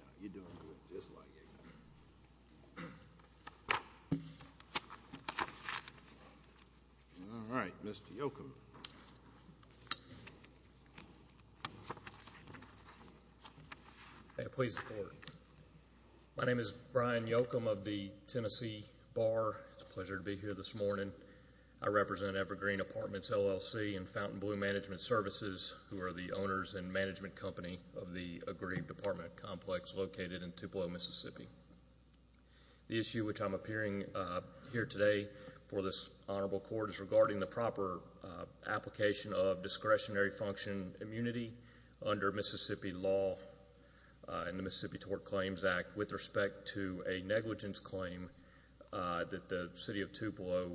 Now, you're doing good, just like you used to. All right, Mr. Yochum. May I please have the floor? My name is Brian Yochum of the Tennessee Bar. It's a pleasure to be here this morning. I represent Evergreen Apartments, L.L.C., and Fountain Blue Management Services, who are the owners and management company of the Agreed Department Complex located in Tupelo, Mississippi. The issue which I'm appearing here today for this honorable court is regarding the proper application of discretionary function immunity under Mississippi law in the Mississippi Toward Claims Act with respect to a negligence claim that the City of Tupelo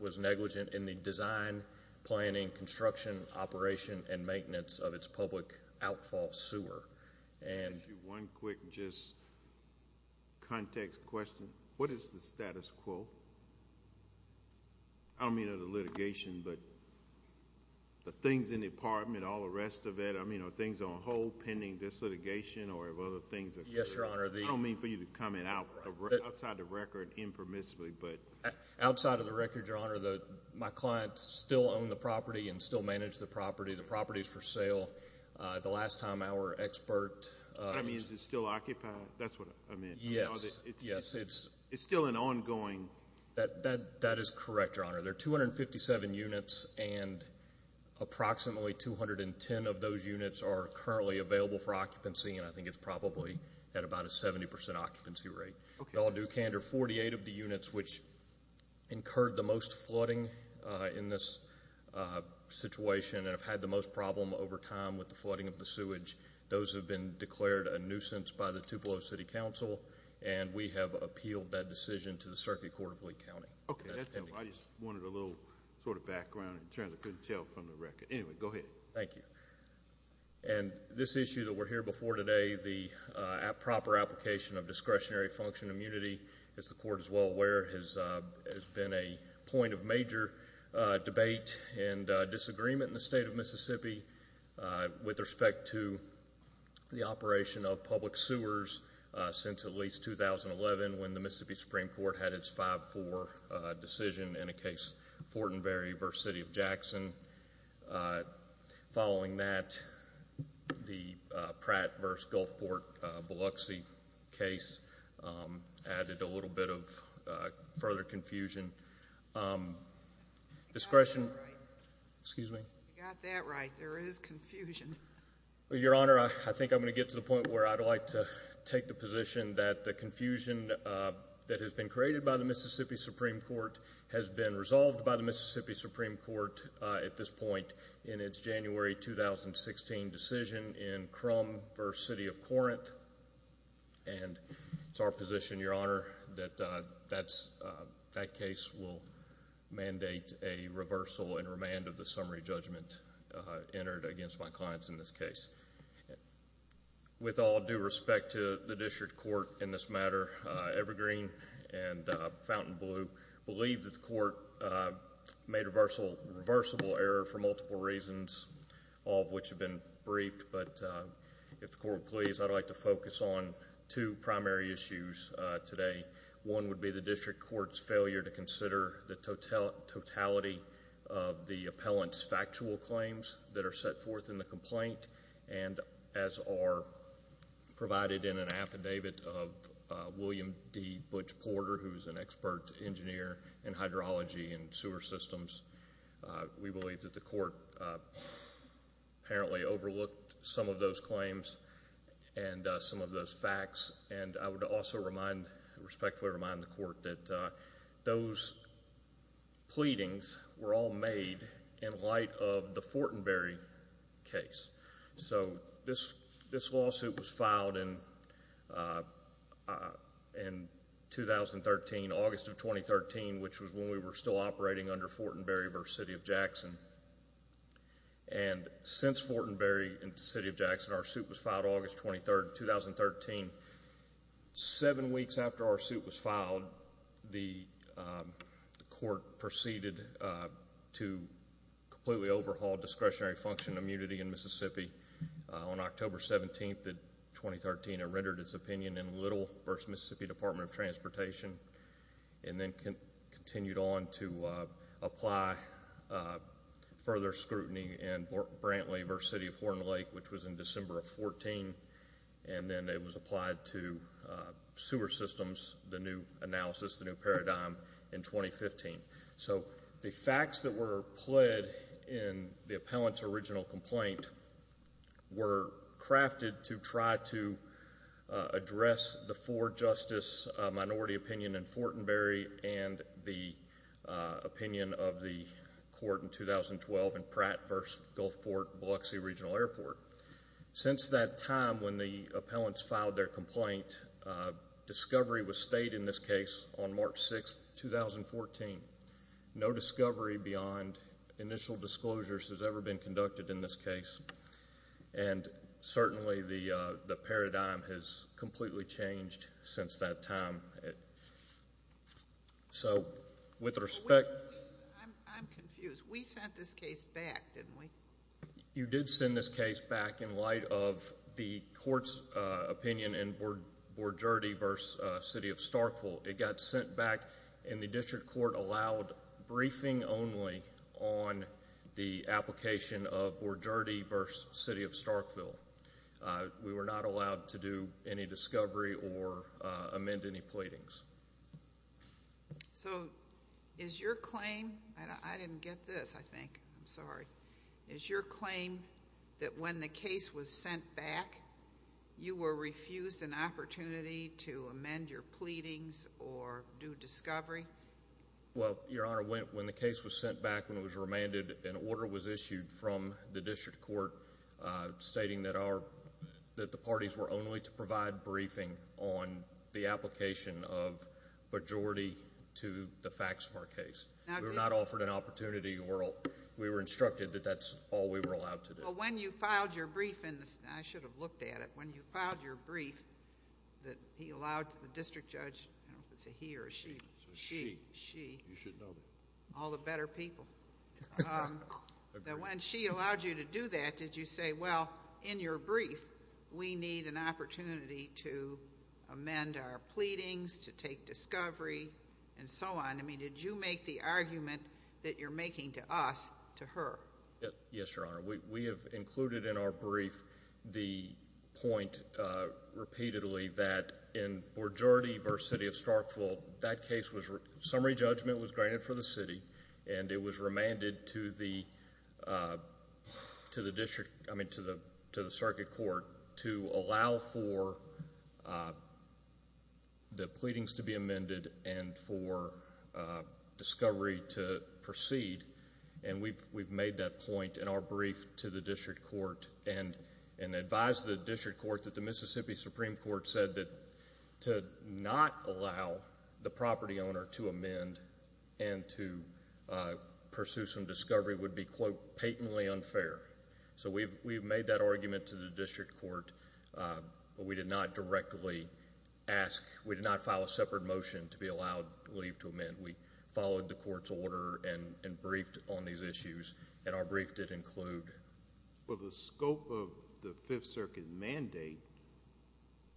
was negligent in the design, planning, construction, operation, and maintenance of its public outfall sewer. Can I ask you one quick just context question? What is the status quo? I don't mean of the litigation, but the things in the apartment, all the rest of it, I mean, are things on hold pending this litigation or have other things occurred? Yes, Your Honor. I don't mean for you to comment outside the record impermissibly. Outside of the record, Your Honor, my clients still own the property and still manage the property. The property is for sale. The last time our expert— I mean, is it still occupied? That's what I meant. Yes. It's still an ongoing— That is correct, Your Honor. There are 257 units, and approximately 210 of those units are currently available for occupancy, and I think it's probably at about a 70 percent occupancy rate. Okay. The all-new candor, 48 of the units which incurred the most flooding in this situation and have had the most problem over time with the flooding of the sewage, those have been declared a nuisance by the Tupelo City Council, and we have appealed that decision to the Circuit Court of Lee County. Okay. I just wanted a little sort of background in terms I couldn't tell from the record. Anyway, go ahead. Thank you. And this issue that we're here before today, the proper application of discretionary function immunity, as the Court is well aware, has been a point of major debate and disagreement in the state of Mississippi with respect to the operation of public sewers since at least 2011 when the Mississippi Supreme Court had its 5-4 decision in a case Fortenberry v. City of Jackson. Following that, the Pratt v. Gulfport-Biloxi case added a little bit of further confusion. Discretion. You got that right. Excuse me? You got that right. There is confusion. Your Honor, I think I'm going to get to the point where I'd like to take the position that the confusion that has been created by the Mississippi Supreme Court has been resolved by the Mississippi Supreme Court at this point in its January 2016 decision in Crum v. City of Corinth. And it's our position, Your Honor, that that case will mandate a reversal and remand of the summary judgment entered against my clients in this case. With all due respect to the district court in this matter, Evergreen and Fountainbleu believe that the court made a reversible error for multiple reasons, all of which have been briefed. But if the court would please, I'd like to focus on two primary issues today. One would be the district court's failure to consider the totality of the appellant's factual claims that are set forth in the complaint and as are provided in an affidavit of William D. Butch Porter, who is an expert engineer in hydrology and sewer systems. We believe that the court apparently overlooked some of those claims and some of those facts. And I would also respectfully remind the court that those pleadings were all made in light of the Fortenberry case. So this lawsuit was filed in August of 2013, which was when we were still operating under Fortenberry v. City of Jackson. And since Fortenberry v. City of Jackson, our suit was filed August 23, 2013. Seven weeks after our suit was filed, the court proceeded to completely overhaul discretionary function immunity in Mississippi. On October 17, 2013, it rendered its opinion in Little v. Mississippi Department of Transportation and then continued on to apply further scrutiny in Brantley v. City of Horn Lake, which was in December of 2014. And then it was applied to sewer systems, the new analysis, the new paradigm, in 2015. So the facts that were pled in the appellant's original complaint were crafted to try to address the four-justice minority opinion in Fortenberry and the opinion of the court in 2012 in Pratt v. Gulfport-Biloxi Regional Airport. Since that time when the appellants filed their complaint, discovery was stayed in this case on March 6, 2014. No discovery beyond initial disclosures has ever been conducted in this case. And certainly the paradigm has completely changed since that time. So with respect- I'm confused. We sent this case back, didn't we? You did send this case back in light of the court's opinion in Borgerdi v. City of Starkville. It got sent back, and the district court allowed briefing only on the application of Borgerdi v. City of Starkville. We were not allowed to do any discovery or amend any pleadings. So is your claim- I didn't get this, I think. I'm sorry. Is your claim that when the case was sent back, you were refused an opportunity to amend your pleadings or do discovery? Well, Your Honor, when the case was sent back, when it was remanded, an order was issued from the district court stating that the parties were only to provide briefing on the application of Borgerdi to the facts of our case. We were not offered an opportunity. We were instructed that that's all we were allowed to do. Well, when you filed your brief in this- I should have looked at it. When you filed your brief that he allowed the district judge- I don't know if it's a he or a she. She. She. You should know that. All the better people. That when she allowed you to do that, did you say, well, in your brief, we need an opportunity to amend our pleadings, to take discovery, and so on? I mean, did you make the argument that you're making to us to her? Yes, Your Honor. We have included in our brief the point repeatedly that in Borgerdi v. City of Starkville, that case was-summary judgment was granted for the city, and it was remanded to the circuit court to allow for the pleadings to be amended and for discovery to proceed. And we've made that point in our brief to the district court and advised the district court that the Mississippi Supreme Court said that to not allow the property owner to amend and to pursue some discovery would be, quote, patently unfair. So we've made that argument to the district court, but we did not directly ask, we did not file a separate motion to be allowed leave to amend. We followed the court's order and briefed on these issues, and our brief did include- Well, the scope of the Fifth Circuit mandate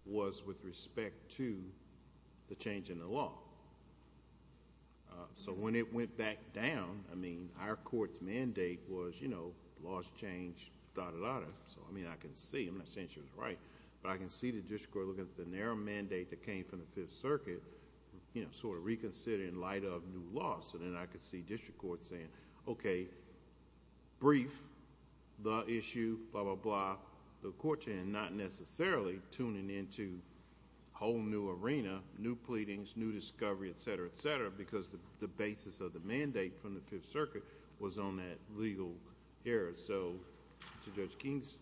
was with respect to the change in the law. So when it went back down, I mean, our court's mandate was, you know, laws change, da-da-da-da. So, I mean, I can see, I'm not saying she was right, but I can see the district court looking at the narrow mandate that came from the Fifth Circuit, you know, sort of reconsidering in light of new laws. So then I could see district court saying, okay, brief the issue, blah-blah-blah, and not necessarily tuning into a whole new arena, new pleadings, new discovery, et cetera, et cetera, because the basis of the mandate from the Fifth Circuit was on that legal area. So to Judge King's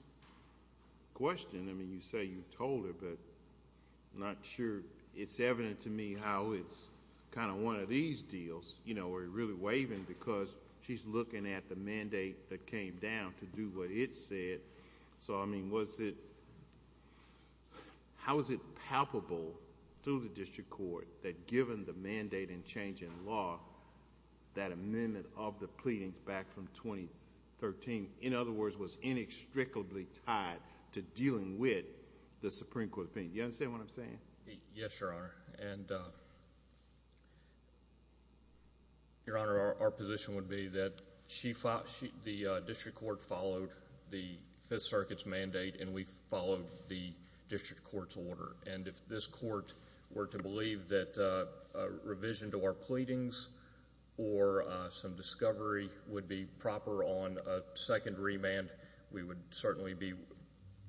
question, I mean, you say you told her, but I'm not sure. It's evident to me how it's kind of one of these deals, you know, where you're really waving because she's looking at the mandate that came down to do what it said. So, I mean, how is it palpable to the district court that given the mandate and change in law, that amendment of the pleadings back from 2013, in other words, was inextricably tied to dealing with the Supreme Court opinion? Do you understand what I'm saying? Yes, Your Honor. And, Your Honor, our position would be that the district court followed the Fifth Circuit's mandate and we followed the district court's order. And if this court were to believe that a revision to our pleadings or some discovery would be proper on a second remand, we would certainly be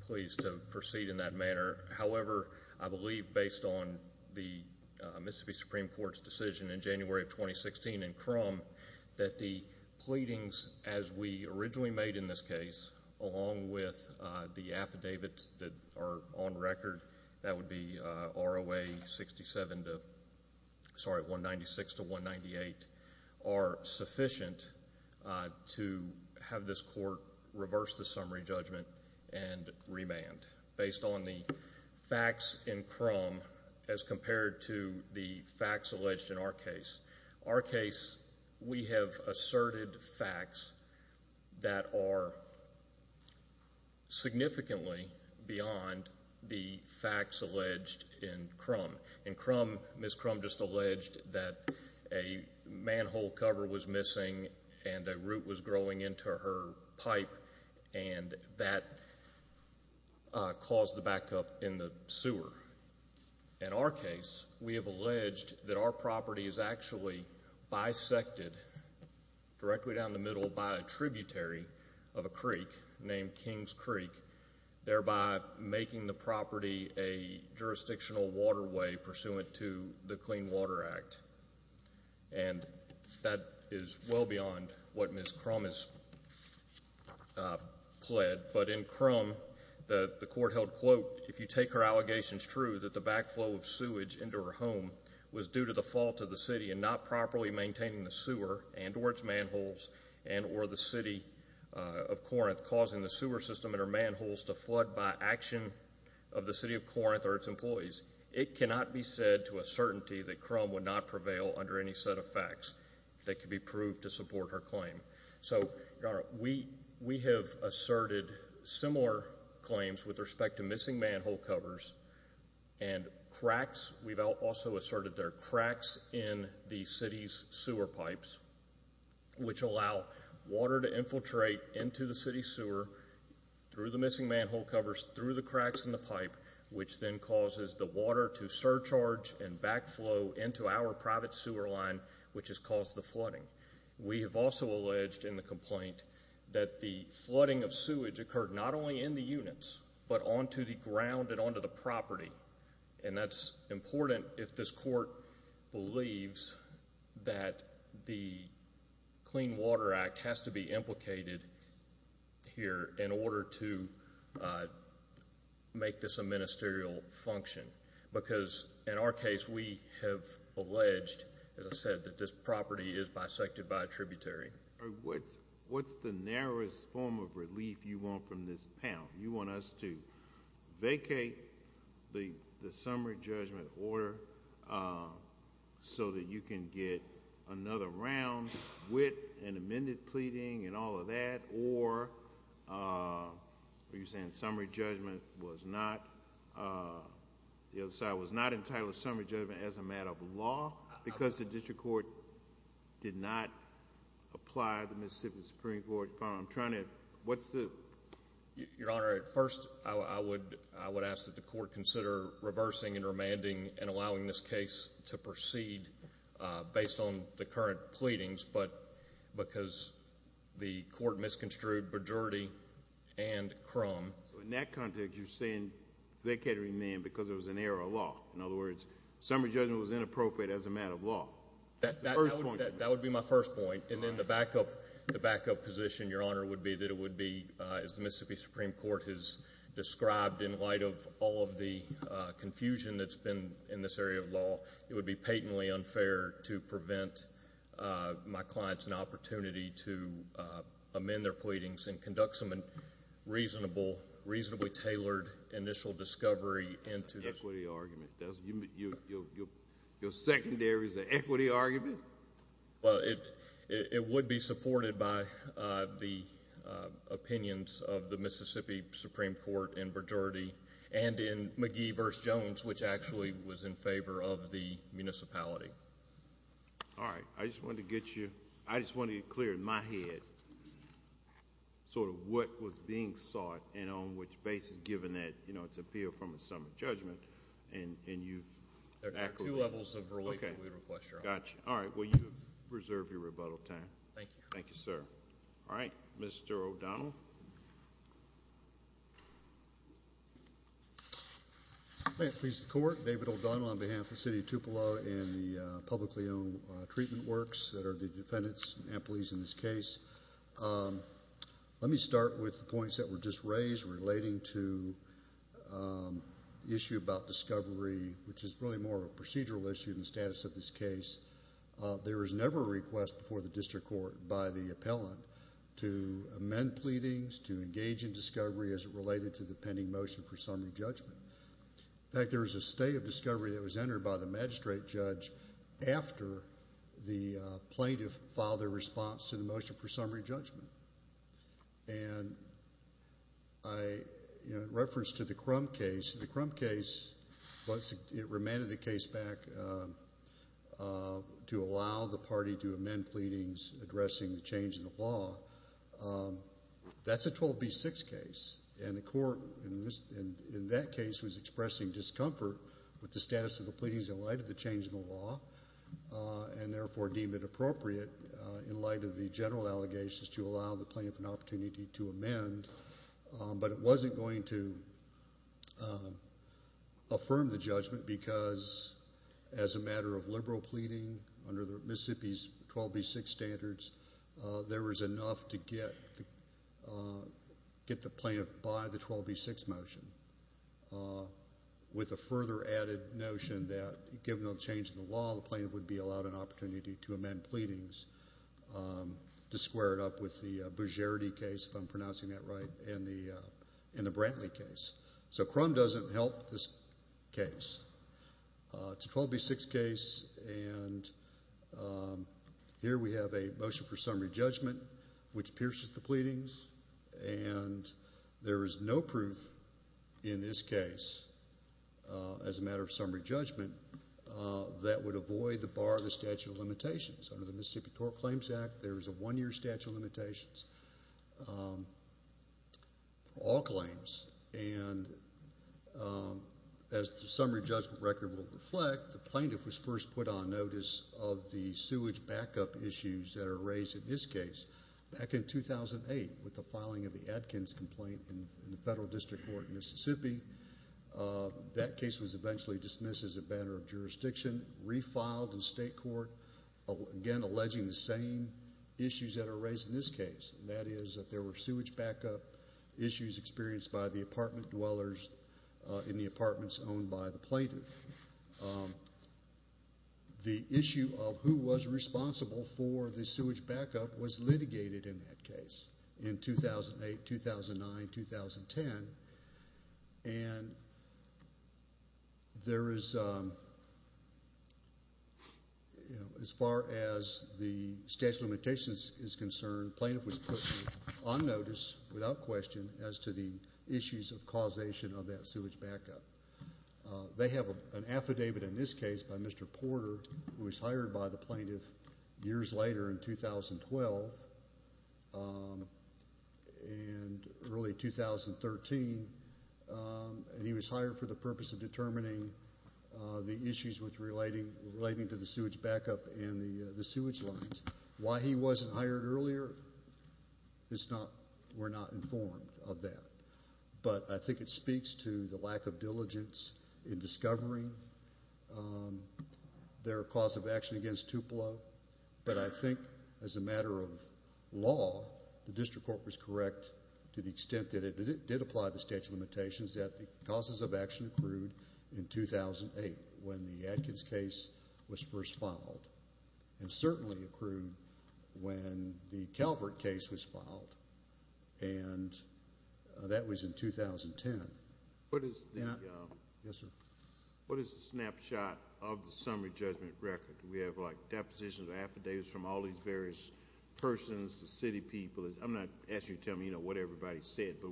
pleased to proceed in that manner. However, I believe based on the Mississippi Supreme Court's decision in January of 2016 in Crum, that the pleadings as we originally made in this case, along with the affidavits that are on record, that would be ROA 67 to, sorry, 196 to 198, are sufficient to have this court reverse the summary judgment and remand. Based on the facts in Crum as compared to the facts alleged in our case. Our case, we have asserted facts that are significantly beyond the facts alleged in Crum. In Crum, Ms. Crum just alleged that a manhole cover was missing and a root was growing into her pipe and that caused the backup in the sewer. In our case, we have alleged that our property is actually bisected directly down the middle by a tributary of a creek named King's Creek, thereby making the property a jurisdictional waterway pursuant to the Clean Water Act. And that is well beyond what Ms. Crum has pled. But in Crum, the court held, quote, if you take her allegations true that the backflow of sewage into her home was due to the fault of the city and not properly maintaining the sewer and or its manholes and or the City of Corinth causing the sewer system and her manholes to flood by action of the City of Corinth or its employees, it cannot be said to a certainty that Crum would not prevail under any set of facts that could be proved to support her claim. So we have asserted similar claims with respect to missing manhole covers and cracks. We've also asserted there are cracks in the city's sewer pipes, which allow water to infiltrate into the city sewer through the missing manhole covers, through the cracks in the pipe, which then causes the water to surcharge and backflow into our private sewer line, which has caused the flooding. We have also alleged in the complaint that the flooding of sewage occurred not only in the units, but onto the ground and onto the property. And that's important if this court believes that the Clean Water Act has to be implicated here in order to make this a ministerial function. Because in our case, we have alleged, as I said, that this property is bisected by a tributary. What's the narrowest form of relief you want from this panel? You want us to vacate the summary judgment order so that you can get another round with an amended pleading and all of that? Or are you saying the other side was not entitled to summary judgment as a matter of law because the district court did not apply the Mississippi Supreme Court? Your Honor, at first I would ask that the court consider reversing and remanding and allowing this case to proceed based on the current pleadings, but because the court misconstrued majority and crumb. So in that context, you're saying they can't remand because it was an error of law. In other words, summary judgment was inappropriate as a matter of law. That would be my first point. And then the backup position, Your Honor, would be that it would be, as the Mississippi Supreme Court has described in light of all of the confusion that's been in this area of law, it would be patently unfair to prevent my clients an opportunity to amend their pleadings and conduct some reasonable, reasonably tailored initial discovery into this. That's an equity argument. Your secondary is an equity argument? Well, it would be supported by the opinions of the Mississippi Supreme Court in majority and in McGee v. Jones, which actually was in favor of the municipality. All right. I just wanted to get you clear in my head sort of what was being sought and on which basis given that it's appeal from a summary judgment. There are two levels of relief that we request, Your Honor. All right. Well, you reserve your rebuttal time. Thank you. Thank you, sir. All right. Mr. O'Donnell. May it please the Court, David O'Donnell on behalf of the City of Tupelo and the publicly owned treatment works that are the defendants and employees in this case. Let me start with the points that were just raised relating to the issue about discovery, which is really more of a procedural issue than the status of this case. There was never a request before the district court by the appellant to amend pleadings, to engage in discovery as it related to the pending motion for summary judgment. In fact, there was a state of discovery that was entered by the magistrate judge after the plaintiff filed their response to the motion for summary judgment. And in reference to the Crum case, the Crum case, once it remanded the case back, to allow the party to amend pleadings addressing the change in the law, that's a 12B6 case. And the court in that case was expressing discomfort with the status of the pleadings in light of the change in the law, and therefore deemed it appropriate in light of the general allegations to allow the plaintiff an opportunity to amend. But it wasn't going to affirm the judgment because, as a matter of liberal pleading, under Mississippi's 12B6 standards, there was enough to get the plaintiff by the 12B6 motion, with a further added notion that, given the change in the law, the plaintiff would be allowed an opportunity to amend pleadings, to square it up with the Bozierity case, if I'm pronouncing that right, and the Brantley case. So Crum doesn't help this case. It's a 12B6 case, and here we have a motion for summary judgment, which pierces the pleadings. And there is no proof in this case, as a matter of summary judgment, that would avoid the bar of the statute of limitations. Under the Mississippi Tort Claims Act, there is a one-year statute of limitations for all claims. And as the summary judgment record will reflect, the plaintiff was first put on notice of the sewage backup issues that are raised in this case. Back in 2008, with the filing of the Adkins complaint in the Federal District Court in Mississippi, that case was eventually dismissed as a matter of jurisdiction, refiled in state court, again alleging the same issues that are raised in this case, and that is that there were sewage backup issues experienced by the apartment dwellers in the apartments owned by the plaintiff. The issue of who was responsible for the sewage backup was litigated in that case in 2008, 2009, 2010. And there is, as far as the statute of limitations is concerned, the plaintiff was put on notice without question as to the issues of causation of that sewage backup. They have an affidavit in this case by Mr. Porter, who was hired by the plaintiff years later in 2012, and early 2013, and he was hired for the purpose of determining the issues relating to the sewage backup and the sewage lines. Why he wasn't hired earlier, we're not informed of that. But I think it speaks to the lack of diligence in discovering their cause of action against Tupelo. But I think as a matter of law, the district court was correct to the extent that it did apply the statute of limitations that the causes of action accrued in 2008 when the Adkins case was first filed and certainly accrued when the Calvert case was filed, and that was in 2010. What is the snapshot of the summary judgment record? We have, like, depositions or affidavits from all these various persons, the city people. I'm not asking you to tell me what everybody said, but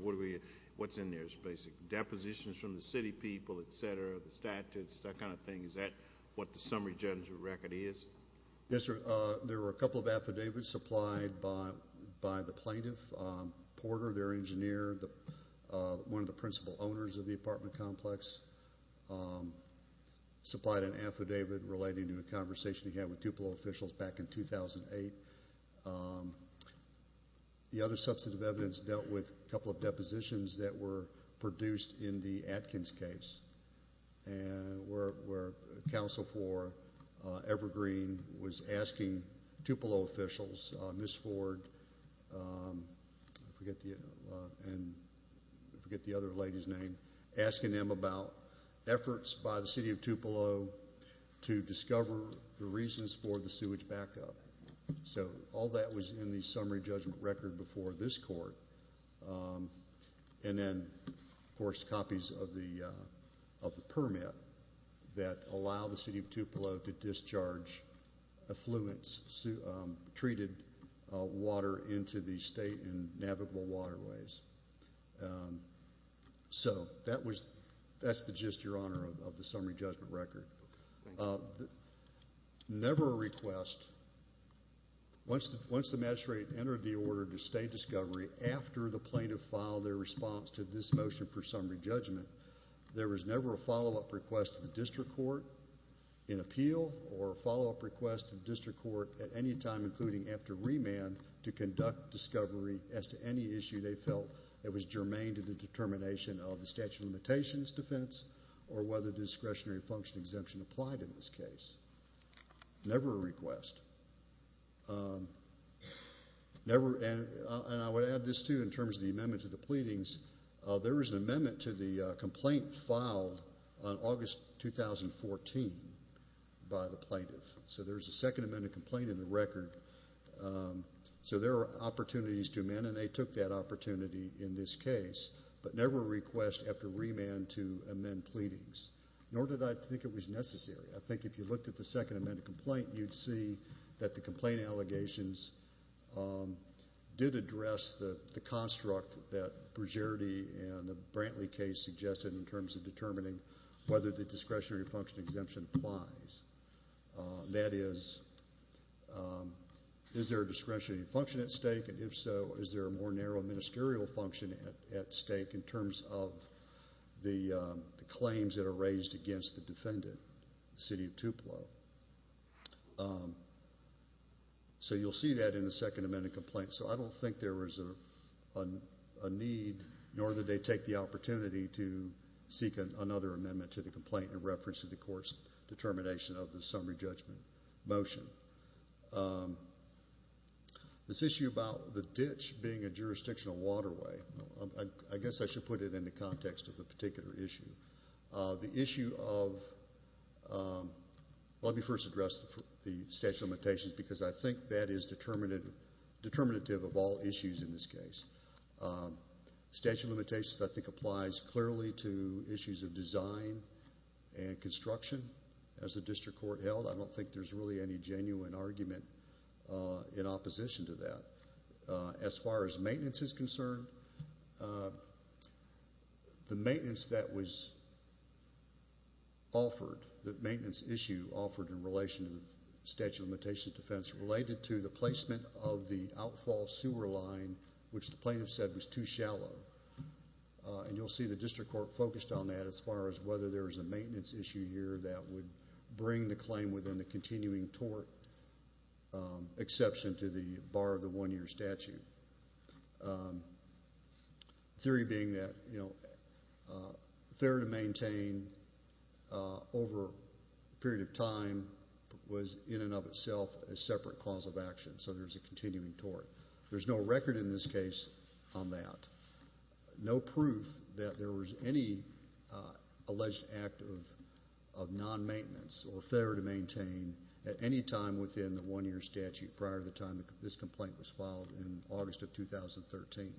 what's in there? It's basically depositions from the city people, et cetera, the statutes, that kind of thing. Is that what the summary judgment record is? Yes, sir. There were a couple of affidavits supplied by the plaintiff, Porter, their engineer, one of the principal owners of the apartment complex, supplied an affidavit relating to a conversation he had with Tupelo officials back in 2008. The other substantive evidence dealt with a couple of depositions that were produced in the Adkins case where counsel for Evergreen was asking Tupelo officials, Ms. Ford, I forget the other lady's name, asking them about efforts by the city of Tupelo to discover the reasons for the sewage backup. So all that was in the summary judgment record before this court. And then, of course, copies of the permit that allow the city of Tupelo to discharge affluence, treated water into the state and navigable waterways. So that's the gist, Your Honor, of the summary judgment record. Never a request, once the magistrate entered the order to stay discovery after the plaintiff filed their response to this motion for summary judgment, there was never a follow-up request to the district court in appeal or follow-up request to the district court at any time, including after remand, to conduct discovery as to any issue they felt that was germane to the determination of the statute of limitations defense or whether discretionary function exemption applied in this case. Never a request. And I would add this, too, in terms of the amendment to the pleadings. There was an amendment to the complaint filed on August 2014 by the plaintiff. So there's a second amended complaint in the record. So there are opportunities to amend, and they took that opportunity in this case, but never a request after remand to amend pleadings, nor did I think it was necessary. I think if you looked at the second amended complaint, you'd see that the complaint allegations did address the construct that Brugeretti and the Brantley case suggested in terms of determining whether the discretionary function exemption applies. That is, is there a discretionary function at stake, and if so, is there a more narrow ministerial function at stake in terms of the claims that are raised against the defendant, the city of Tupelo. So you'll see that in the second amended complaint. So I don't think there was a need, nor did they take the opportunity, to seek another amendment to the complaint in reference to the court's determination of the summary judgment motion. This issue about the ditch being a jurisdictional waterway, I guess I should put it in the context of the particular issue. The issue of, let me first address the statute of limitations, because I think that is determinative of all issues in this case. Statute of limitations, I think, applies clearly to issues of design and construction. As the district court held, I don't think there's really any genuine argument in opposition to that. As far as maintenance is concerned, the maintenance that was offered, the maintenance issue offered in relation to the statute of limitations defense related to the placement of the outfall sewer line, which the plaintiff said was too shallow. And you'll see the district court focused on that as far as whether there is a maintenance issue here that would bring the claim within the continuing tort exception to the bar of the one-year statute. The theory being that, you know, fair to maintain over a period of time was in and of itself a separate cause of action, so there's a continuing tort. There's no record in this case on that. No proof that there was any alleged act of non-maintenance or fair to maintain at any time within the one-year statute prior to the time this complaint was filed in August of 2013.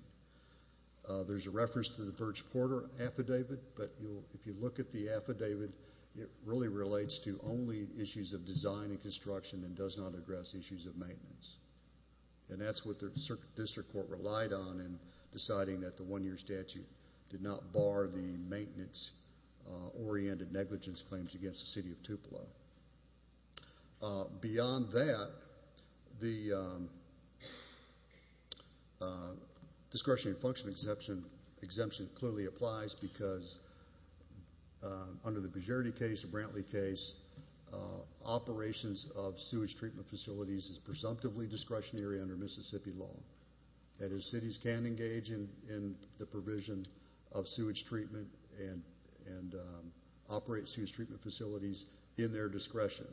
There's a reference to the Birch-Porter affidavit, but if you look at the affidavit, it really relates to only issues of design and construction and does not address issues of maintenance. And that's what the district court relied on in deciding that the one-year statute did not bar the maintenance-oriented negligence claims against the city of Tupelo. Beyond that, the discretionary function exemption clearly applies because, under the Bejerde case, the Brantley case, operations of sewage treatment facilities is presumptively discretionary under Mississippi law. That is, cities can engage in the provision of sewage treatment and operate sewage treatment facilities in their discretion.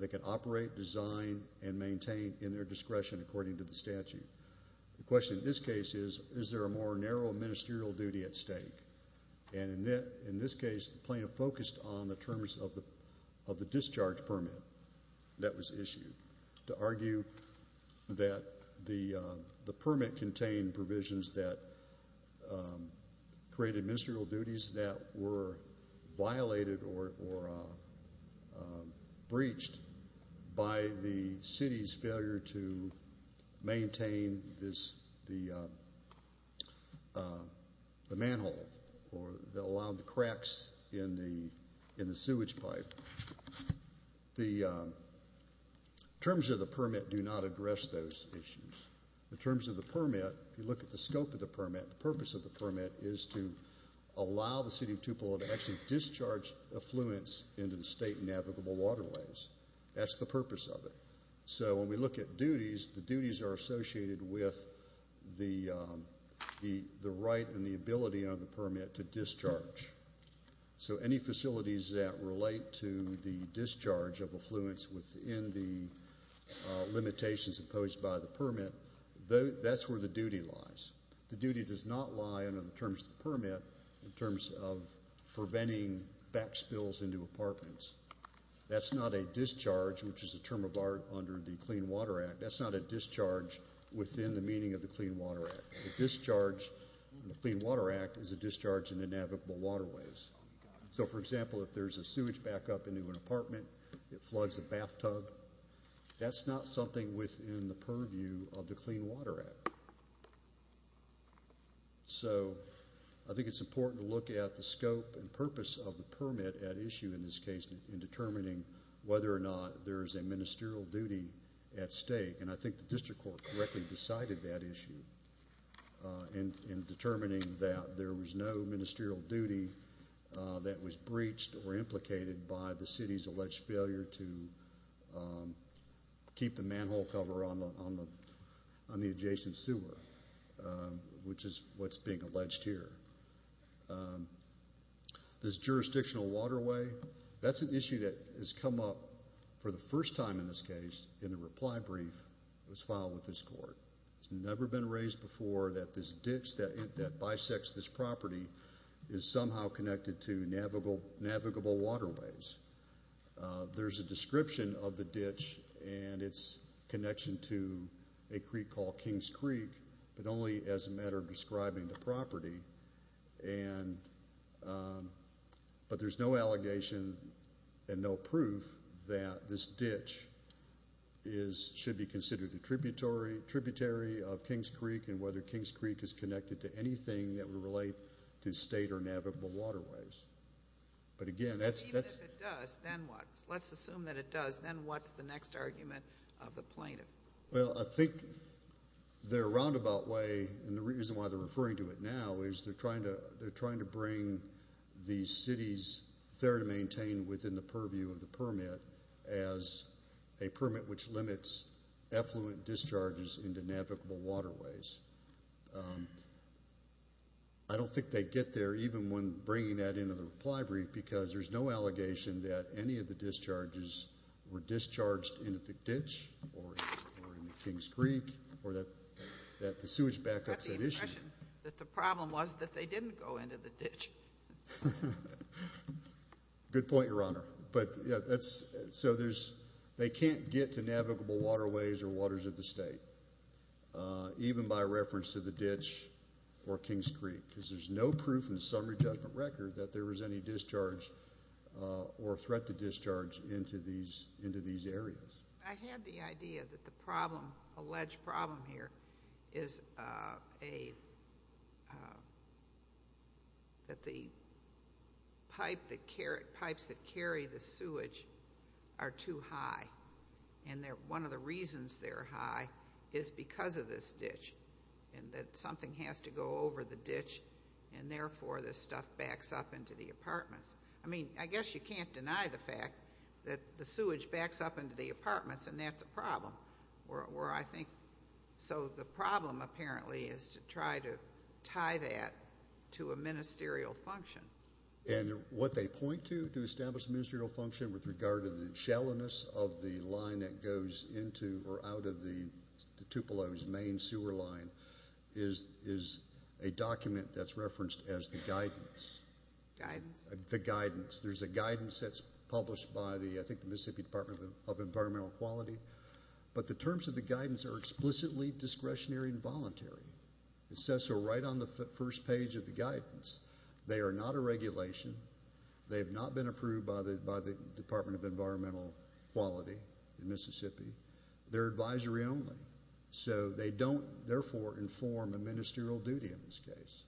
They can operate, design, and maintain in their discretion according to the statute. The question in this case is, is there a more narrow ministerial duty at stake? And in this case, the plaintiff focused on the terms of the discharge permit that was issued to argue that the permit contained provisions that created ministerial duties that were violated or breached by the city's failure to maintain the manhole or allow the cracks in the sewage pipe. The terms of the permit do not address those issues. In terms of the permit, if you look at the scope of the permit, the purpose of the permit is to allow the city of Tupelo to actually discharge affluence into the state navigable waterways. That's the purpose of it. So when we look at duties, the duties are associated with the right and the ability under the permit to discharge. So any facilities that relate to the discharge of affluence within the limitations imposed by the permit, that's where the duty lies. The duty does not lie under the terms of the permit in terms of preventing back spills into apartments. That's not a discharge, which is a term of art under the Clean Water Act. That's not a discharge within the meaning of the Clean Water Act. A discharge in the Clean Water Act is a discharge in the navigable waterways. So, for example, if there's a sewage back up into an apartment, it floods a bathtub, that's not something within the purview of the Clean Water Act. So I think it's important to look at the scope and purpose of the permit at issue in this case in determining whether or not there is a ministerial duty at stake. And I think the district court correctly decided that issue in determining that there was no ministerial duty that was breached or implicated by the city's alleged failure to keep the manhole cover on the adjacent sewer, which is what's being alleged here. This jurisdictional waterway, that's an issue that has come up for the first time in this case in a reply brief that was filed with this court. It's never been raised before that this ditch that bisects this property is somehow connected to navigable waterways. There's a description of the ditch and its connection to a creek called King's Creek, but only as a matter of describing the property. But there's no allegation and no proof that this ditch should be considered a tributary of King's Creek and whether King's Creek is connected to anything that would relate to state or navigable waterways. But again, that's... But even if it does, then what? Let's assume that it does. Then what's the next argument of the plaintiff? Well, I think their roundabout way and the reason why they're referring to it now is they're trying to bring the city's fair to maintain within the purview of the permit as a permit which limits effluent discharges into navigable waterways. I don't think they'd get there even when bringing that into the reply brief because there's no allegation that any of the discharges were discharged into the ditch or into King's Creek or that the sewage backup's an issue. I got the impression that the problem was that they didn't go into the ditch. Good point, Your Honor. So they can't get to navigable waterways or waters of the state even by reference to the ditch or King's Creek because there's no proof in the summary judgment record that there was any discharge or threat to discharge into these areas. I had the idea that the alleged problem here is that the pipes that carry the sewage are too high and one of the reasons they're high is because of this ditch and that something has to go over the ditch and therefore this stuff backs up into the apartments. I mean, I guess you can't deny the fact that the sewage backs up into the apartments and that's a problem where I think, so the problem apparently is to try to tie that to a ministerial function. And what they point to to establish ministerial function with regard to the shallowness of the line that goes into or out of the Tupelo's main sewer line is a document that's referenced as the guidance. Guidance? The guidance. There's a guidance that's published by the, I think, the Mississippi Department of Environmental Quality. But the terms of the guidance are explicitly discretionary and voluntary. It says so right on the first page of the guidance. They are not a regulation. They have not been approved by the Department of Environmental Quality in Mississippi. They're advisory only. So they don't, therefore, inform a ministerial duty in this case.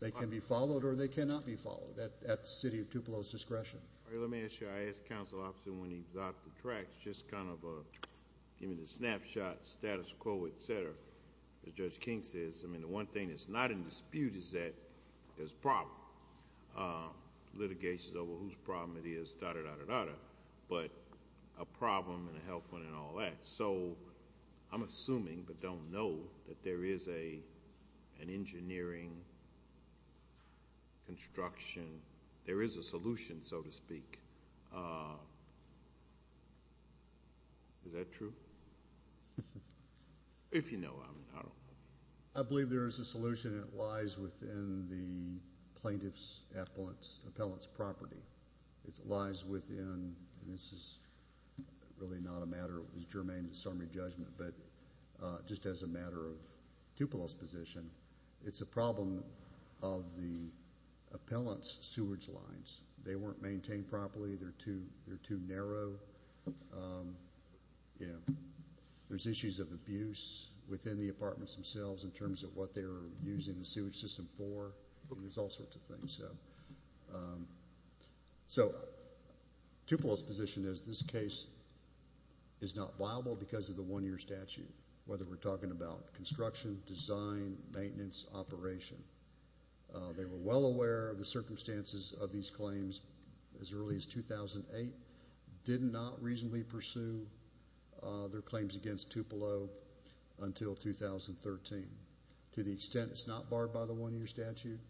They can be followed or they cannot be followed at the City of Tupelo's discretion. Let me ask you, I asked Council Officer when he got the tracts, just kind of a snapshot, status quo, et cetera, as Judge King says. I mean, the one thing that's not in dispute is that there's a problem. Litigation over whose problem it is, da-da-da-da-da-da, but a problem and a health one and all that. I'm assuming but don't know that there is an engineering construction. There is a solution, so to speak. Is that true? If you know, I don't know. I believe there is a solution. It lies within the plaintiff's appellate's property. It lies within, and this is really not a matter of germane disarming judgment, but just as a matter of Tupelo's position, it's a problem of the appellant's sewage lines. They weren't maintained properly. They're too narrow. There's issues of abuse within the apartments themselves in terms of what they're using the sewage system for. There's all sorts of things. So Tupelo's position is this case is not viable because of the one-year statute, whether we're talking about construction, design, maintenance, operation. They were well aware of the circumstances of these claims as early as 2008, did not reasonably pursue their claims against Tupelo until 2013. To the extent it's not barred by the one-year statute,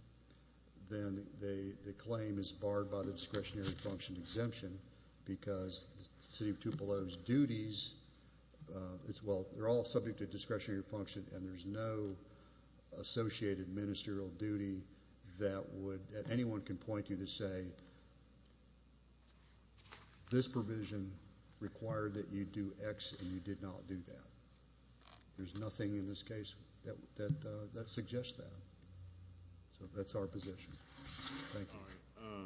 then the claim is barred by the discretionary function exemption because the city of Tupelo's duties, well, they're all subject to discretionary function and there's no associated ministerial duty that anyone can point you to say, this provision required that you do X and you did not do that. There's nothing in this case that suggests that. So that's our position. Thank you. All right.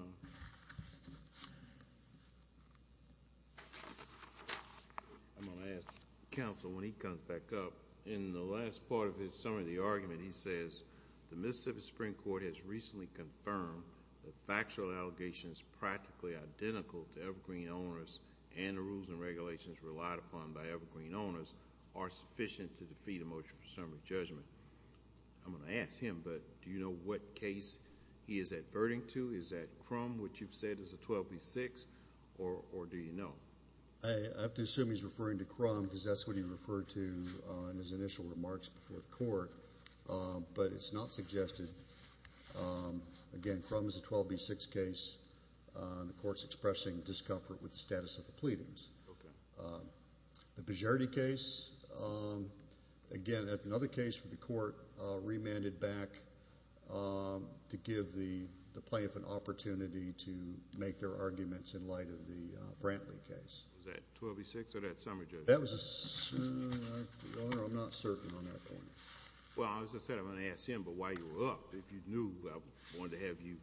I'm going to ask counsel when he comes back up, in the last part of his summary of the argument, he says, the Mississippi Supreme Court has recently confirmed that factual allegations practically identical to Evergreen owners and the rules and regulations relied upon by Evergreen owners are sufficient to defeat a motion for summary judgment. I'm going to ask him, but do you know what case he is adverting to? Is that Crum, which you've said is a 12B6, or do you know? I have to assume he's referring to Crum because that's what he referred to in his initial remarks before the court, but it's not suggested. Again, Crum is a 12B6 case. The court's expressing discomfort with the status of the pleadings. Okay. The Bagiardi case, again, that's another case where the court remanded back to give the plaintiff an opportunity to make their arguments in light of the Brantley case. Was that 12B6 or that summary judgment? That was a summary. I'm not certain on that point. Well, as I said, I'm going to ask him, but while you were up, if you knew, I wanted to have you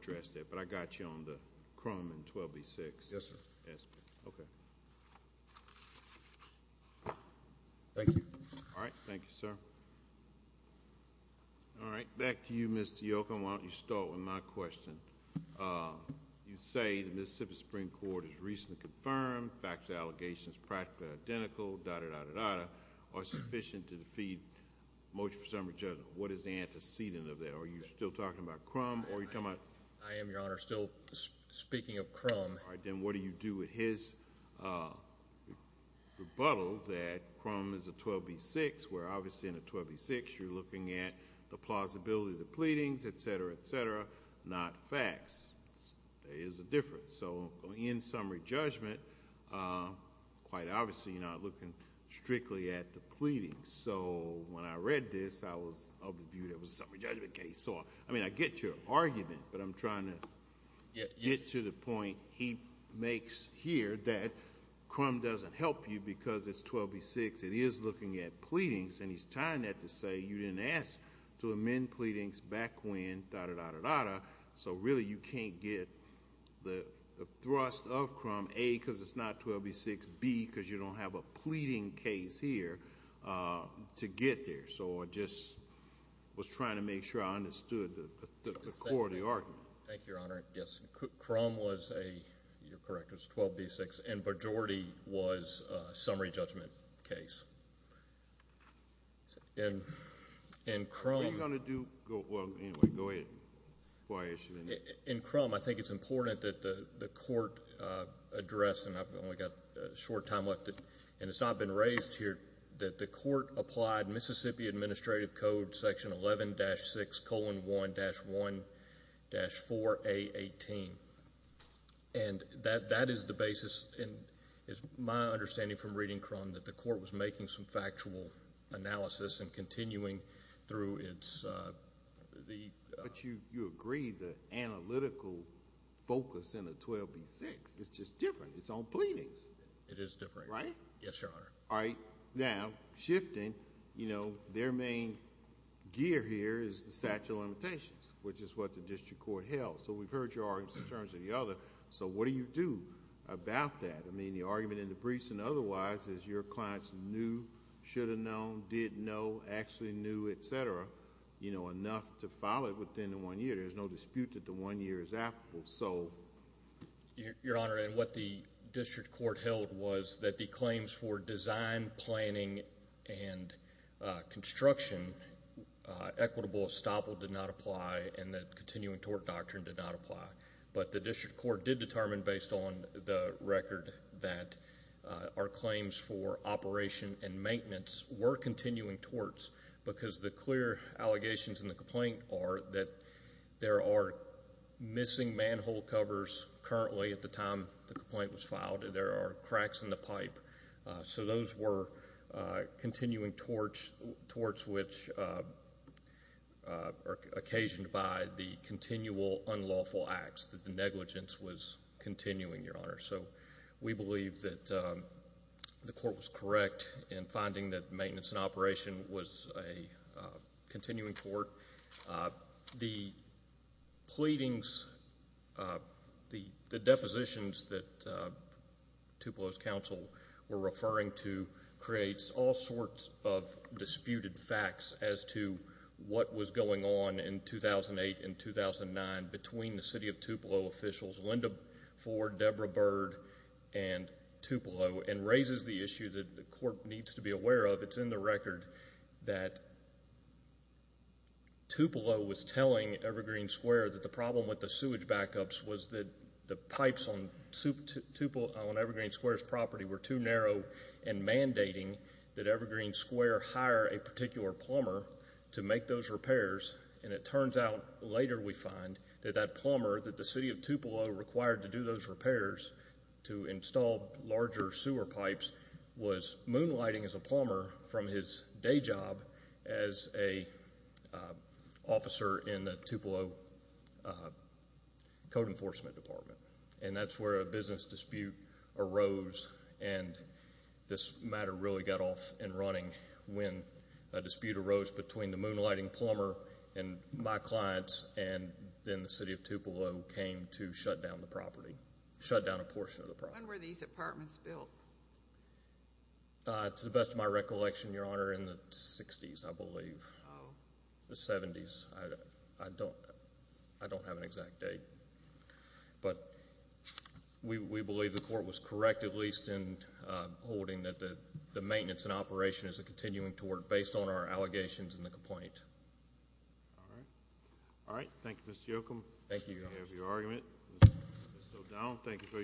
address that, but I got you on the Crum and 12B6. Yes, sir. Okay. Thank you. All right. Thank you, sir. Back to you, Mr. Yochum. Why don't you start with my question. You say the Mississippi Supreme Court has recently confirmed the facts of the allegations are practically identical, da-da-da-da-da, or sufficient to defeat motion for summary judgment. What is the antecedent of that? Are you still talking about Crum? I am, Your Honor, still speaking of Crum. Then what do you do with his rebuttal that Crum is a 12B6, where obviously in a 12B6 you're looking at the plausibility of the pleadings, et cetera, et cetera, not facts. There is a difference. In summary judgment, quite obviously, you're not looking strictly at the pleadings. When I read this, I was of the view that it was a summary judgment case. I mean, I get your argument, but I'm trying to get to the point he makes here that Crum doesn't help you because it's 12B6. It is looking at pleadings, and he's tying that to say you didn't ask to amend pleadings back when, da-da-da-da-da, so really you can't get the thrust of Crum, A, because it's not 12B6, B, because you don't have a pleading case here to get there. So I just was trying to make sure I understood the core of the argument. Thank you, Your Honor. Yes, Crum was a, you're correct, it was a 12B6, and majority was a summary judgment case. What are you going to do? Well, anyway, go ahead. In Crum, I think it's important that the court address, and I've only got a short time left, and it's not been raised here, that the court applied Mississippi Administrative Code, section 11-6, colon 1-1-4A18. And that is the basis, and it's my understanding from reading Crum, that the court was making some factual analysis and continuing through its... But you agree the analytical focus in the 12B6 is just different. It's on pleadings. It is different. Right? Yes, Your Honor. All right. Now, shifting, their main gear here is the statute of limitations, which is what the district court held. So we've heard your arguments in terms of the other. So what do you do about that? I mean, the argument in the briefs and otherwise is your clients knew, should have known, did know, actually knew, et cetera, enough to file it within the one year. There's no dispute that the one year is applicable. Your Honor, what the district court held was that the claims for design, planning, and construction, equitable estoppel did not apply and the continuing tort doctrine did not apply. But the district court did determine, based on the record, that our claims for operation and maintenance were continuing torts because the clear allegations in the complaint are that there are missing manhole covers currently at the time the complaint was filed. There are cracks in the pipe. So those were continuing torts, torts which are occasioned by the continual unlawful acts that the negligence was continuing, Your Honor. So we believe that the court was correct in finding that maintenance and operation was a continuing tort. The pleadings, the depositions that Tupelo's counsel were referring to creates all sorts of disputed facts as to what was going on in 2008 and 2009 between the city of Tupelo officials, Linda Ford, Deborah Bird, and Tupelo and raises the issue that the court needs to be aware of. It's in the record that Tupelo was telling Evergreen Square that the problem with the sewage backups was that the pipes on Evergreen Square's property were too narrow and mandating that Evergreen Square hire a particular plumber to make those repairs. And it turns out later we find that that plumber that the city of Tupelo required to do those repairs to install larger sewer pipes was moonlighting as a plumber from his day job as an officer in the Tupelo code enforcement department. And that's where a business dispute arose and this matter really got off and running when a dispute arose between the moonlighting plumber and my clients and then the city of Tupelo came to shut down the property, shut down a portion of the property. When were these apartments built? To the best of my recollection, Your Honor, in the 60s, I believe. Oh. The 70s. I don't have an exact date. But we believe the court was correct at least in holding that the maintenance and operation is continuing to work based on our allegations in the complaint. All right. All right. Thank you, Mr. Yochum. Thank you, Your Honor. We have your argument. It's still down. Thank you.